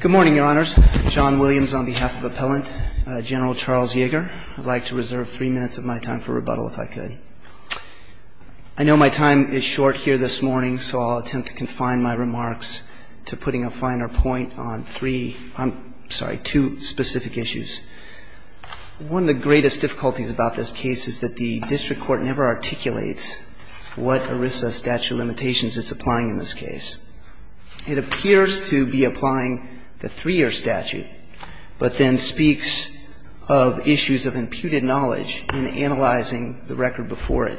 Good morning, Your Honors. John Williams on behalf of Appellant General Charles Yeager. I'd like to reserve three minutes of my time for rebuttal if I could. I know my time is short here this morning, so I'll attempt to confine my remarks to putting a finer point on three, I'm sorry, two specific issues. One of the greatest difficulties about this case is that the district court never articulates what ERISA statute of limitations it's applying in this case. It appears to be applying the three-year statute, but then speaks of issues of imputed knowledge in analyzing the record before it.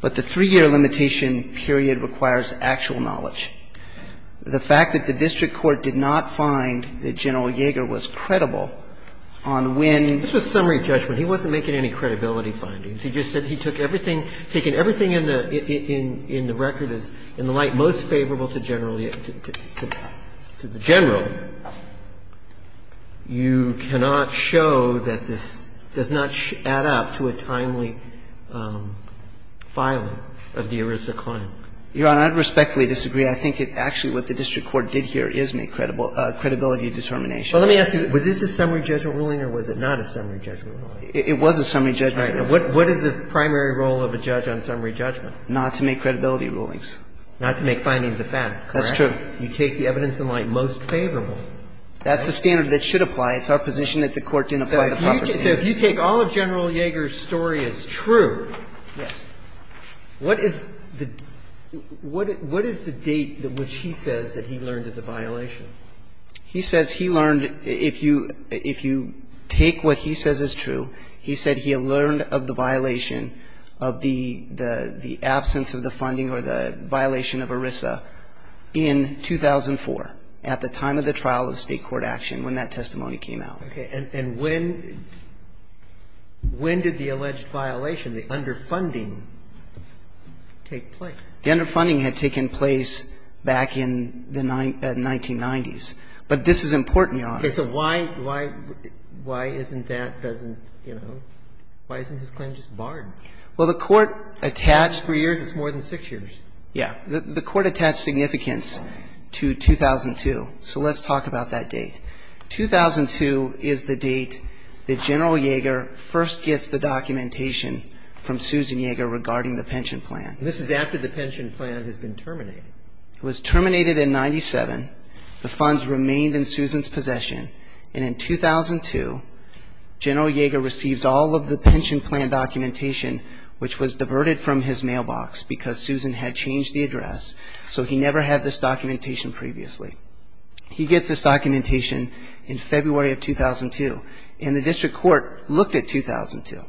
But the three-year limitation period requires actual knowledge. The fact that the district court did not find that General Yeager was credible on when he was making any credibility findings. He just said he took everything, taking everything in the record as in the light most favorable to General Yeager. To the general, you cannot show that this does not add up to a timely filing of the ERISA claim. Your Honor, I'd respectfully disagree. I think it actually what the district court did here is make credibility determination. Well, let me ask you, was this a summary judgment ruling or was it not a summary judgment ruling? It was a summary judgment ruling. All right. Now, what is the primary role of a judge on summary judgment? Not to make credibility rulings. Not to make findings of fact, correct? That's true. You take the evidence in light most favorable. That's the standard that should apply. It's our position that the Court didn't apply the proper standard. So if you take all of General Yeager's story as true, what is the date which he says that he learned of the violation? He says he learned, if you take what he says is true, he said he learned of the violation of the absence of the funding or the violation of ERISA in 2004, at the time of the trial of State court action, when that testimony came out. Okay. And when did the alleged violation, the underfunding, take place? The underfunding had taken place back in the 1990s. But this is important, Your Honor. Okay. So why isn't that, doesn't, you know, why isn't his claim just barred? Well, the Court attached. Four years is more than six years. Yeah. The Court attached significance to 2002. So let's talk about that date. 2002 is the date that General Yeager first gets the documentation from Susan Yeager regarding the pension plan. This is after the pension plan has been terminated. It was terminated in 1997. The funds remained in Susan's possession. And in 2002, General Yeager receives all of the pension plan documentation, which was diverted from his mailbox because Susan had changed the address, so he never had this documentation previously. He gets this documentation in February of 2002. And the district court looked at 2002.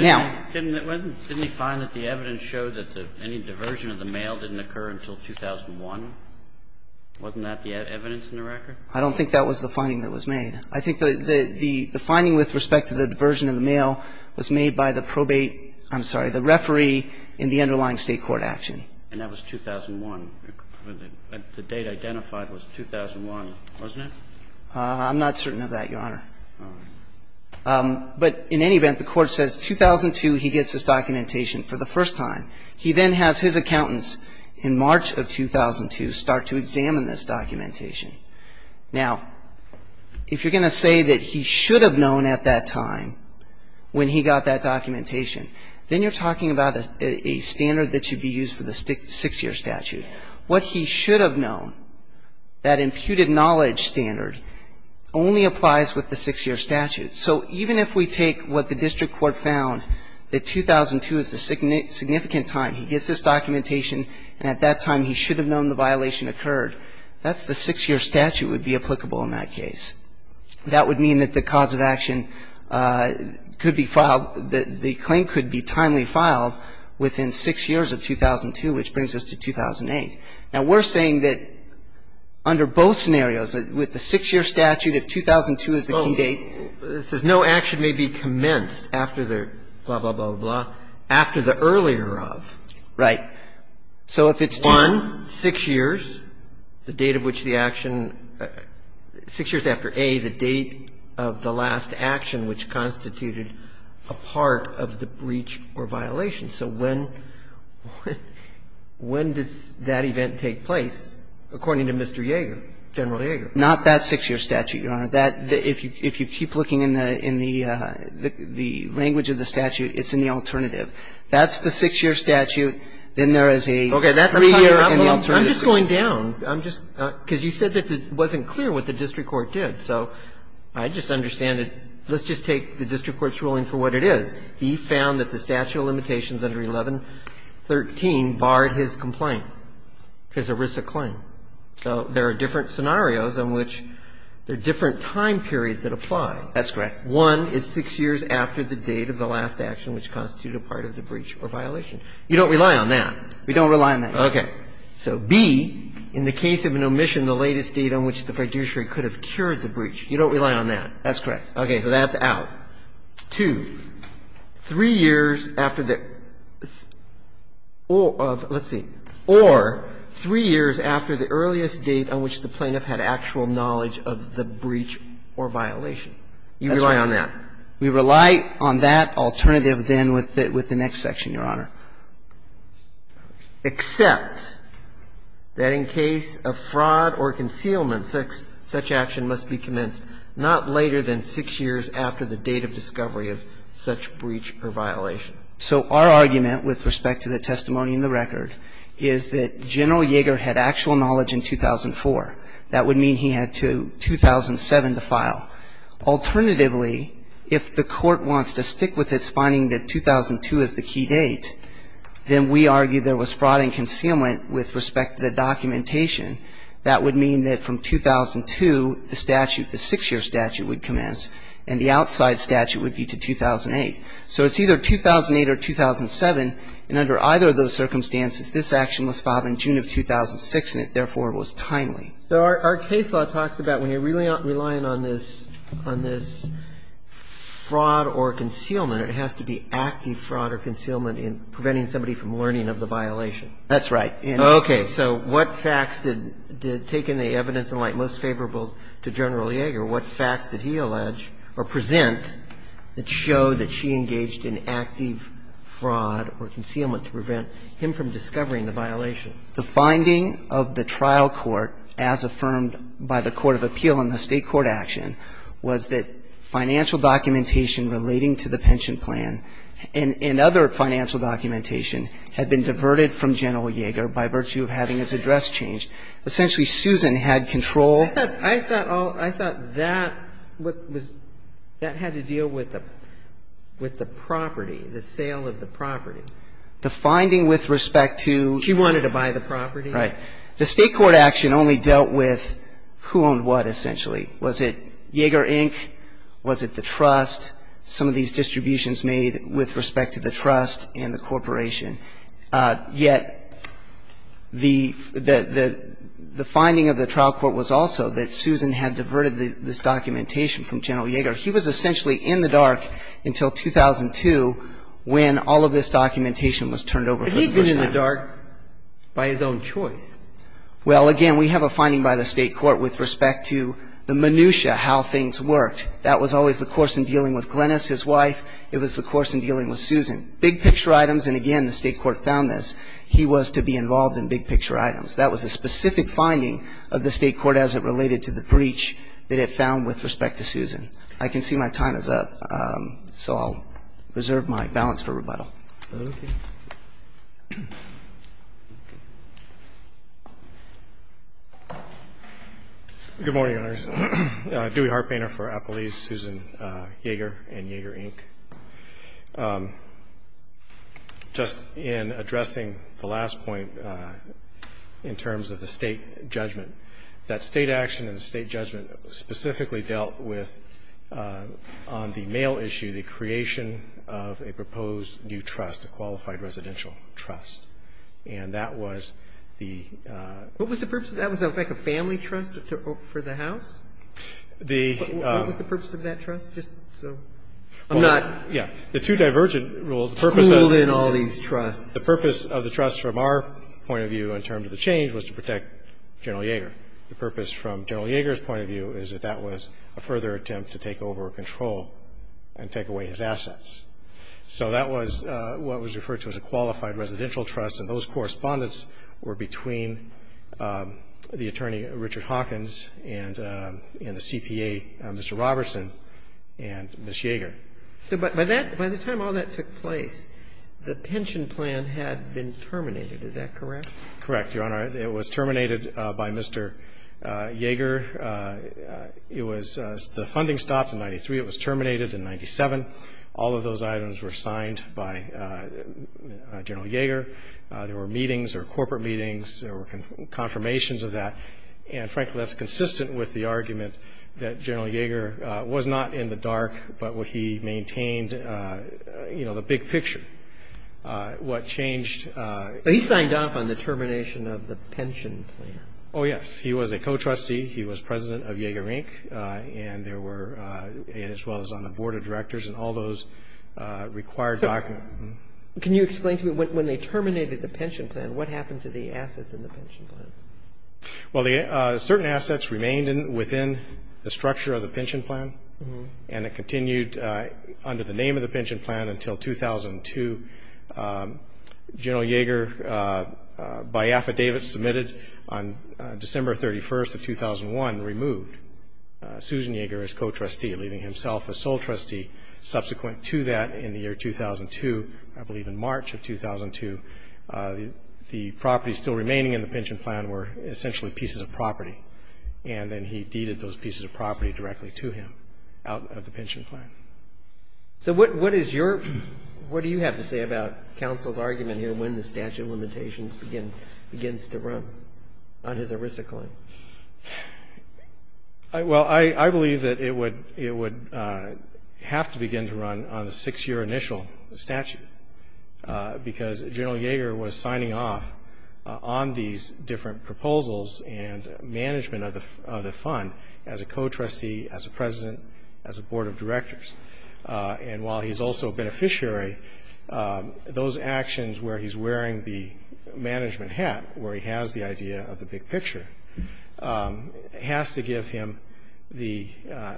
Now. Didn't they find that the evidence showed that any diversion of the mail didn't occur until 2001? Wasn't that the evidence in the record? I don't think that was the finding that was made. I think the finding with respect to the diversion of the mail was made by the probate ‑‑ I'm sorry, the referee in the underlying State court action. And that was 2001. The date identified was 2001, wasn't it? I'm not certain of that, Your Honor. All right. But in any event, the court says 2002, he gets this documentation for the first time. He then has his accountants in March of 2002 start to examine this documentation. Now, if you're going to say that he should have known at that time when he got that documentation, then you're talking about a standard that should be used for the six‑year statute. What he should have known, that imputed knowledge standard, only applies with the six‑year statute. So even if we take what the district court found, that 2002 is the significant time he gets this documentation, and at that time he should have known the violation occurred, that's the six‑year statute would be applicable in that case. That would mean that the cause of action could be filed, the claim could be timely filed within six years of 2002, which brings us to 2008. Now, we're saying that under both scenarios, with the six‑year statute, if 2002 is the key date ‑‑ Well, it says no action may be commenced after the blah, blah, blah, blah, after the earlier of. Right. So if it's one, six years, the date of which the action ‑‑ six years after A, the date of the last action which constituted a part of the breach or violation. So when ‑‑ when does that event take place, according to Mr. Yeager, General Yeager? Not that six‑year statute, Your Honor. If you keep looking in the language of the statute, it's in the alternative. That's the six‑year statute. Then there is a three‑year in the alternative. I'm just going down. I'm just ‑‑ because you said that it wasn't clear what the district court did. So I just understand it. Let's just take the district court's ruling for what it is. He found that the statute of limitations under 1113 barred his complaint, his ERISA claim. So there are different scenarios in which there are different time periods that apply. That's correct. One is six years after the date of the last action which constituted a part of the breach or violation. You don't rely on that. We don't rely on that. Okay. So B, in the case of an omission, the latest date on which the fiduciary could have cured the breach. You don't rely on that. That's correct. Okay. So that's out. Two, three years after the ‑‑ let's see. Or three years after the earliest date on which the plaintiff had actual knowledge of the breach or violation. That's right. You rely on that. We rely on that alternative then with the next section, Your Honor. Except that in case of fraud or concealment, such action must be commenced not later So our argument with respect to the testimony in the record is that General Yeager had actual knowledge in 2004. That would mean he had to 2007 to file. Alternatively, if the court wants to stick with its finding that 2002 is the key date, then we argue there was fraud and concealment with respect to the documentation. That would mean that from 2002, the statute, the six‑year statute would commence and the outside statute would be to 2008. So it's either 2008 or 2007. And under either of those circumstances, this action was filed in June of 2006, and it therefore was timely. So our case law talks about when you're relying on this fraud or concealment, it has to be active fraud or concealment in preventing somebody from learning of the violation. That's right. Okay. So what facts did take in the evidence in light most favorable to General Yeager? What facts did he allege or present that showed that she engaged in active fraud or concealment to prevent him from discovering the violation? The finding of the trial court as affirmed by the court of appeal in the State Court action was that financial documentation relating to the pension plan and other financial documentation had been diverted from General Yeager by virtue of having his address changed. Essentially, Susan had control. I thought all ‑‑ I thought that was ‑‑ that had to deal with the property, the sale of the property. The finding with respect to ‑‑ She wanted to buy the property. Right. The State Court action only dealt with who owned what, essentially. Was it Yeager, Inc.? Was it the trust? Some of these distributions made with respect to the trust and the corporation. Yet the finding of the trial court was also that Susan had diverted this documentation from General Yeager. He was essentially in the dark until 2002 when all of this documentation was turned over to the Bush family. But he had been in the dark by his own choice. Well, again, we have a finding by the State Court with respect to the minutiae, how things worked. That was always the course in dealing with Glenis, his wife. It was the course in dealing with Susan. Big picture items, and again, the State Court found this, he was to be involved in big picture items. That was a specific finding of the State Court as it related to the breach that it found with respect to Susan. I can see my time is up, so I'll reserve my balance for rebuttal. Okay. Good morning, Your Honors. I'm Dewey Hartpainter for Appelese, Susan Yeager and Yeager, Inc. Just in addressing the last point in terms of the State judgment, that State action and the State judgment specifically dealt with, on the mail issue, the creation of a proposed new trust, a qualified residential trust. And that was the ---- What was the purpose of that trust? I'm not ---- Yeah. The two divergent rules, the purpose of the ---- Schooled in all these trusts. The purpose of the trust from our point of view in terms of the change was to protect General Yeager. The purpose from General Yeager's point of view is that that was a further attempt to take over control and take away his assets. So that was what was referred to as a qualified residential trust, and those correspondence were between the attorney, Richard Hawkins, and the CPA, Mr. Robertson, and Ms. Yeager. So by that ---- by the time all that took place, the pension plan had been terminated. Is that correct? Correct, Your Honor. It was terminated by Mr. Yeager. It was ---- the funding stopped in 93. It was terminated in 97. All of those items were signed by General Yeager. There were meetings. There were corporate meetings. There were confirmations of that. And, frankly, that's consistent with the argument that General Yeager was not in the dark, but he maintained, you know, the big picture. What changed ---- He signed off on the termination of the pension plan. Oh, yes. He was a co-trustee. He was president of Yeager Inc., and there were ---- and as well as on the board of directors and all those required documents. Can you explain to me, when they terminated the pension plan, what happened to the assets in the pension plan? Well, the certain assets remained within the structure of the pension plan, and it continued under the name of the pension plan until 2002. General Yeager, by affidavit submitted on December 31st of 2001, removed Susan Yeager as co-trustee, leaving himself as sole trustee. Subsequent to that, in the year 2002, I believe in March of 2002, the properties still remaining in the pension plan were essentially pieces of property, and then he deeded those pieces of property directly to him out of the pension plan. So what is your ---- what do you have to say about counsel's argument here when the statute of limitations begins to run on his arisicling? Well, I believe that it would have to begin to run on the six-year initial statute, because General Yeager was signing off on these different proposals and management of the fund as a co-trustee, as a president, as a board of directors. And while he's also a beneficiary, those actions where he's wearing the management hat, where he has the idea of the big picture, has to give him the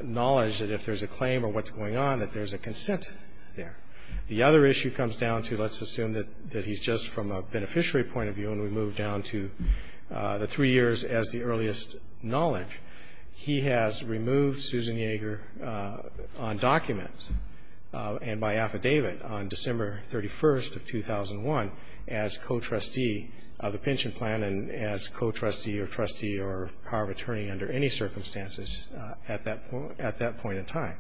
knowledge that if there's a claim or what's going on, that there's a consent there. The other issue comes down to, let's assume that he's just from a beneficiary point of view, and we move down to the three years as the earliest knowledge. He has removed Susan Yeager on document and by affidavit on December 31st of 2001 as co-trustee of the pension plan and as co-trustee or trustee or power of attorney under any circumstances at that point in time.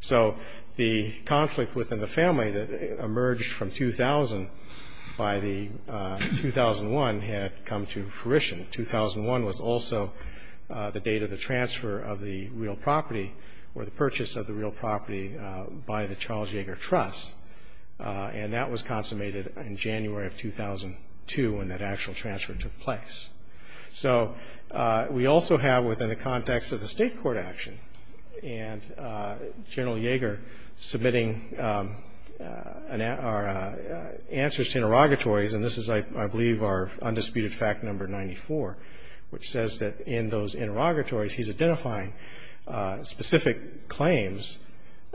So the conflict within the family that emerged from 2000 by the 2001 had come to fruition. 2001 was also the date of the transfer of the real property or the purchase of the real property by the Charles Yeager Trust. And that was consummated in January of 2002 when that actual transfer took place. So we also have within the context of the state court action and General Yeager submitting answers to interrogatories, and this is, I believe, our undisputed fact number 94, which says that in those interrogatories he's identifying specific claims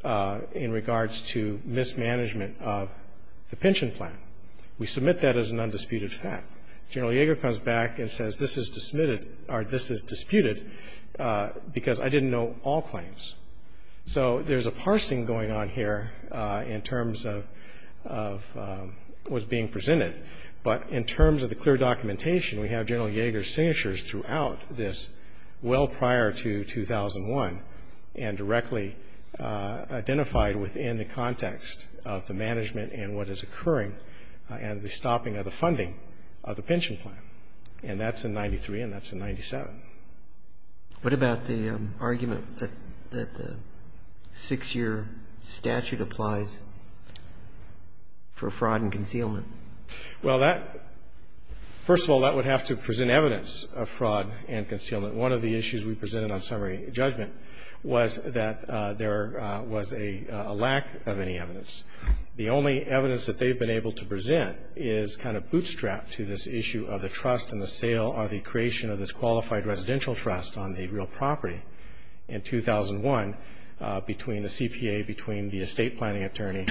in regards to mismanagement of the pension plan. We submit that as an undisputed fact. General Yeager comes back and says this is disputed because I didn't know all claims. So there's a parsing going on here in terms of what's being presented, but in terms of the clear documentation, we have General Yeager's signatures throughout this well prior to 2001 and directly identified within the context of the management and what is occurring and the stopping of the funding of the pension plan. And that's in 93 and that's in 97. What about the argument that the six-year statute applies for fraud and concealment? Well, that, first of all, that would have to present evidence of fraud and concealment. One of the issues we presented on summary judgment was that there was a lack of any evidence. The only evidence that they've been able to present is kind of bootstrapped to this issue of the trust and the sale or the creation of this qualified residential trust on the real property in 2001 between the CPA, between the estate planning attorney,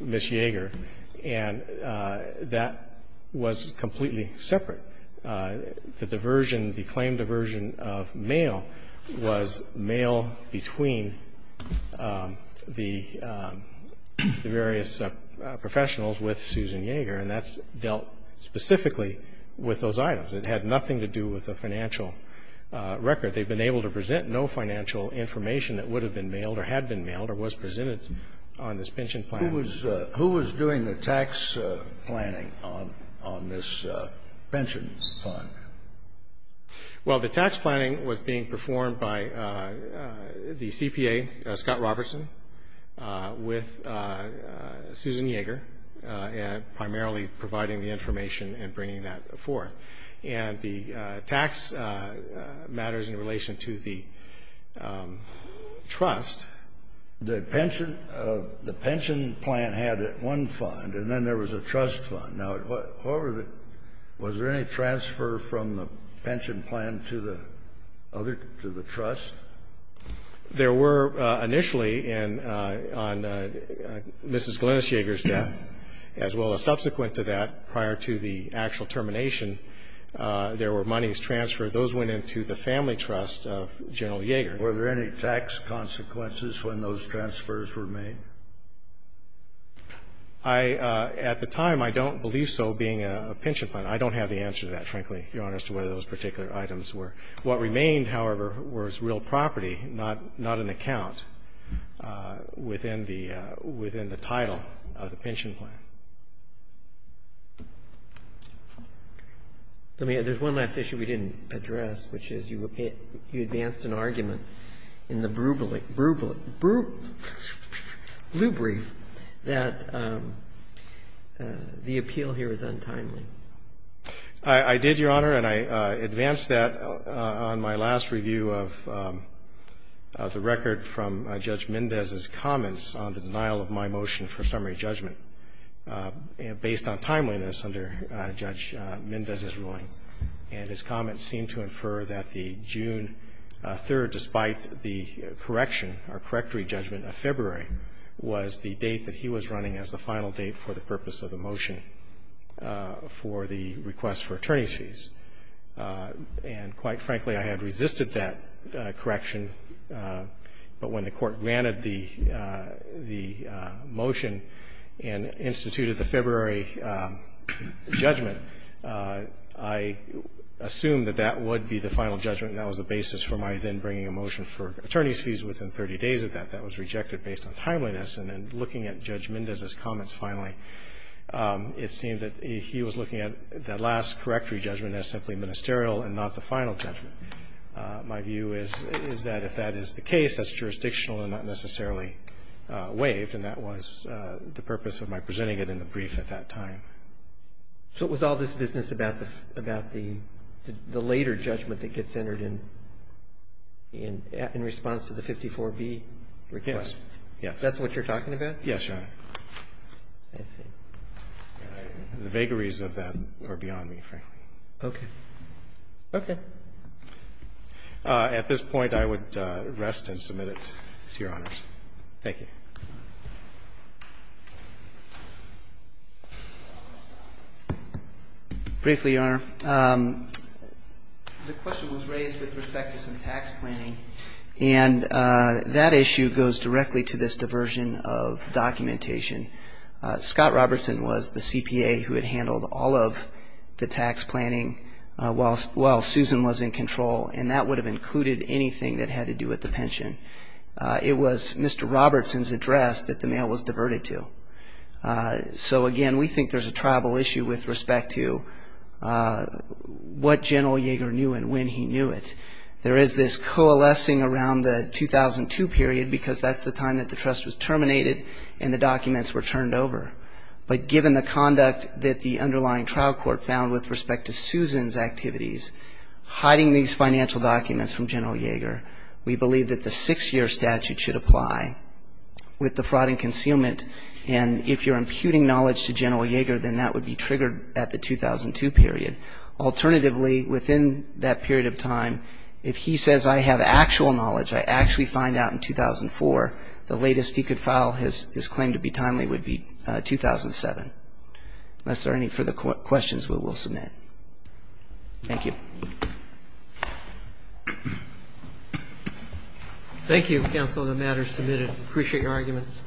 Ms. Yeager. And that was completely separate. The diversion, the claim diversion of mail was mail between the various professionals with Susan Yeager and that's dealt specifically with those items. It had nothing to do with the financial record. They've been able to present no financial information that would have been mailed or had been mailed or was presented on this pension plan. Who was doing the tax planning on this pension fund? Well, the tax planning was being performed by the CPA, Scott Robertson, with Susan Yeager, primarily providing the information and bringing that forth. And the tax matters in relation to the trust. The pension plan had one fund, and then there was a trust fund. Now, however, was there any transfer from the pension plan to the other, to the trust? There were initially on Mrs. Glynis Yeager's death, as well as subsequent to that prior to the actual termination. There were monies transferred. Those went into the family trust of General Yeager. Were there any tax consequences when those transfers were made? I, at the time, I don't believe so, being a pension plan. I don't have the answer to that, frankly, Your Honor, as to whether those particular items were. What remained, however, was real property, not an account within the title of the pension plan. There's one last issue we didn't address, which is you advanced an argument in the blue brief that the appeal here is untimely. I did, Your Honor, and I advanced that on my last review of the record from Judge Mendez's comments on the denial of my motion for summary judgment, based on timeliness under Judge Mendez's ruling. And his comments seem to infer that the June 3rd, despite the correction or correctory judgment of February, was the date that he was running as the final date for the purpose of the motion for the request for attorney's fees. And quite frankly, I had resisted that correction, but when the Court granted the motion and instituted the February judgment, I assumed that that would be the final judgment and that was the basis for my then bringing a motion for attorney's fees within 30 days of that. That was rejected based on timeliness. And in looking at Judge Mendez's comments, finally, it seemed that he was looking at that last correctory judgment as simply ministerial and not the final judgment. My view is that if that is the case, that's jurisdictional and not necessarily waived, and that was the purpose of my presenting it in the brief at that time. So it was all this business about the later judgment that gets entered in response to the 54B request? Yes. That's what you're talking about? Yes, Your Honor. I see. The vagaries of that are beyond me, frankly. Okay. Okay. At this point, I would rest and submit it to Your Honors. Thank you. Briefly, Your Honor. The question was raised with respect to some tax planning, and that issue goes directly to this diversion of documentation. Scott Robertson was the CPA who had handled all of the tax planning while Susan was in control, and that would have included anything that had to do with the pension. It was Mr. Robertson's address that the mail was diverted to. So, again, we think there's a tribal issue with respect to what General Yeager knew and when he knew it. There is this coalescing around the 2002 period because that's the time that the documents were turned over. But given the conduct that the underlying trial court found with respect to Susan's activities, hiding these financial documents from General Yeager, we believe that the six-year statute should apply with the fraud and concealment. And if you're imputing knowledge to General Yeager, then that would be triggered at the 2002 period. Alternatively, within that period of time, if he says, I have actual knowledge, I actually find out in 2004, the latest he could file his claim to be timely would be 2007. Unless there are any further questions, we will submit. Thank you. Thank you, Counsel, the matter is submitted. I appreciate your arguments.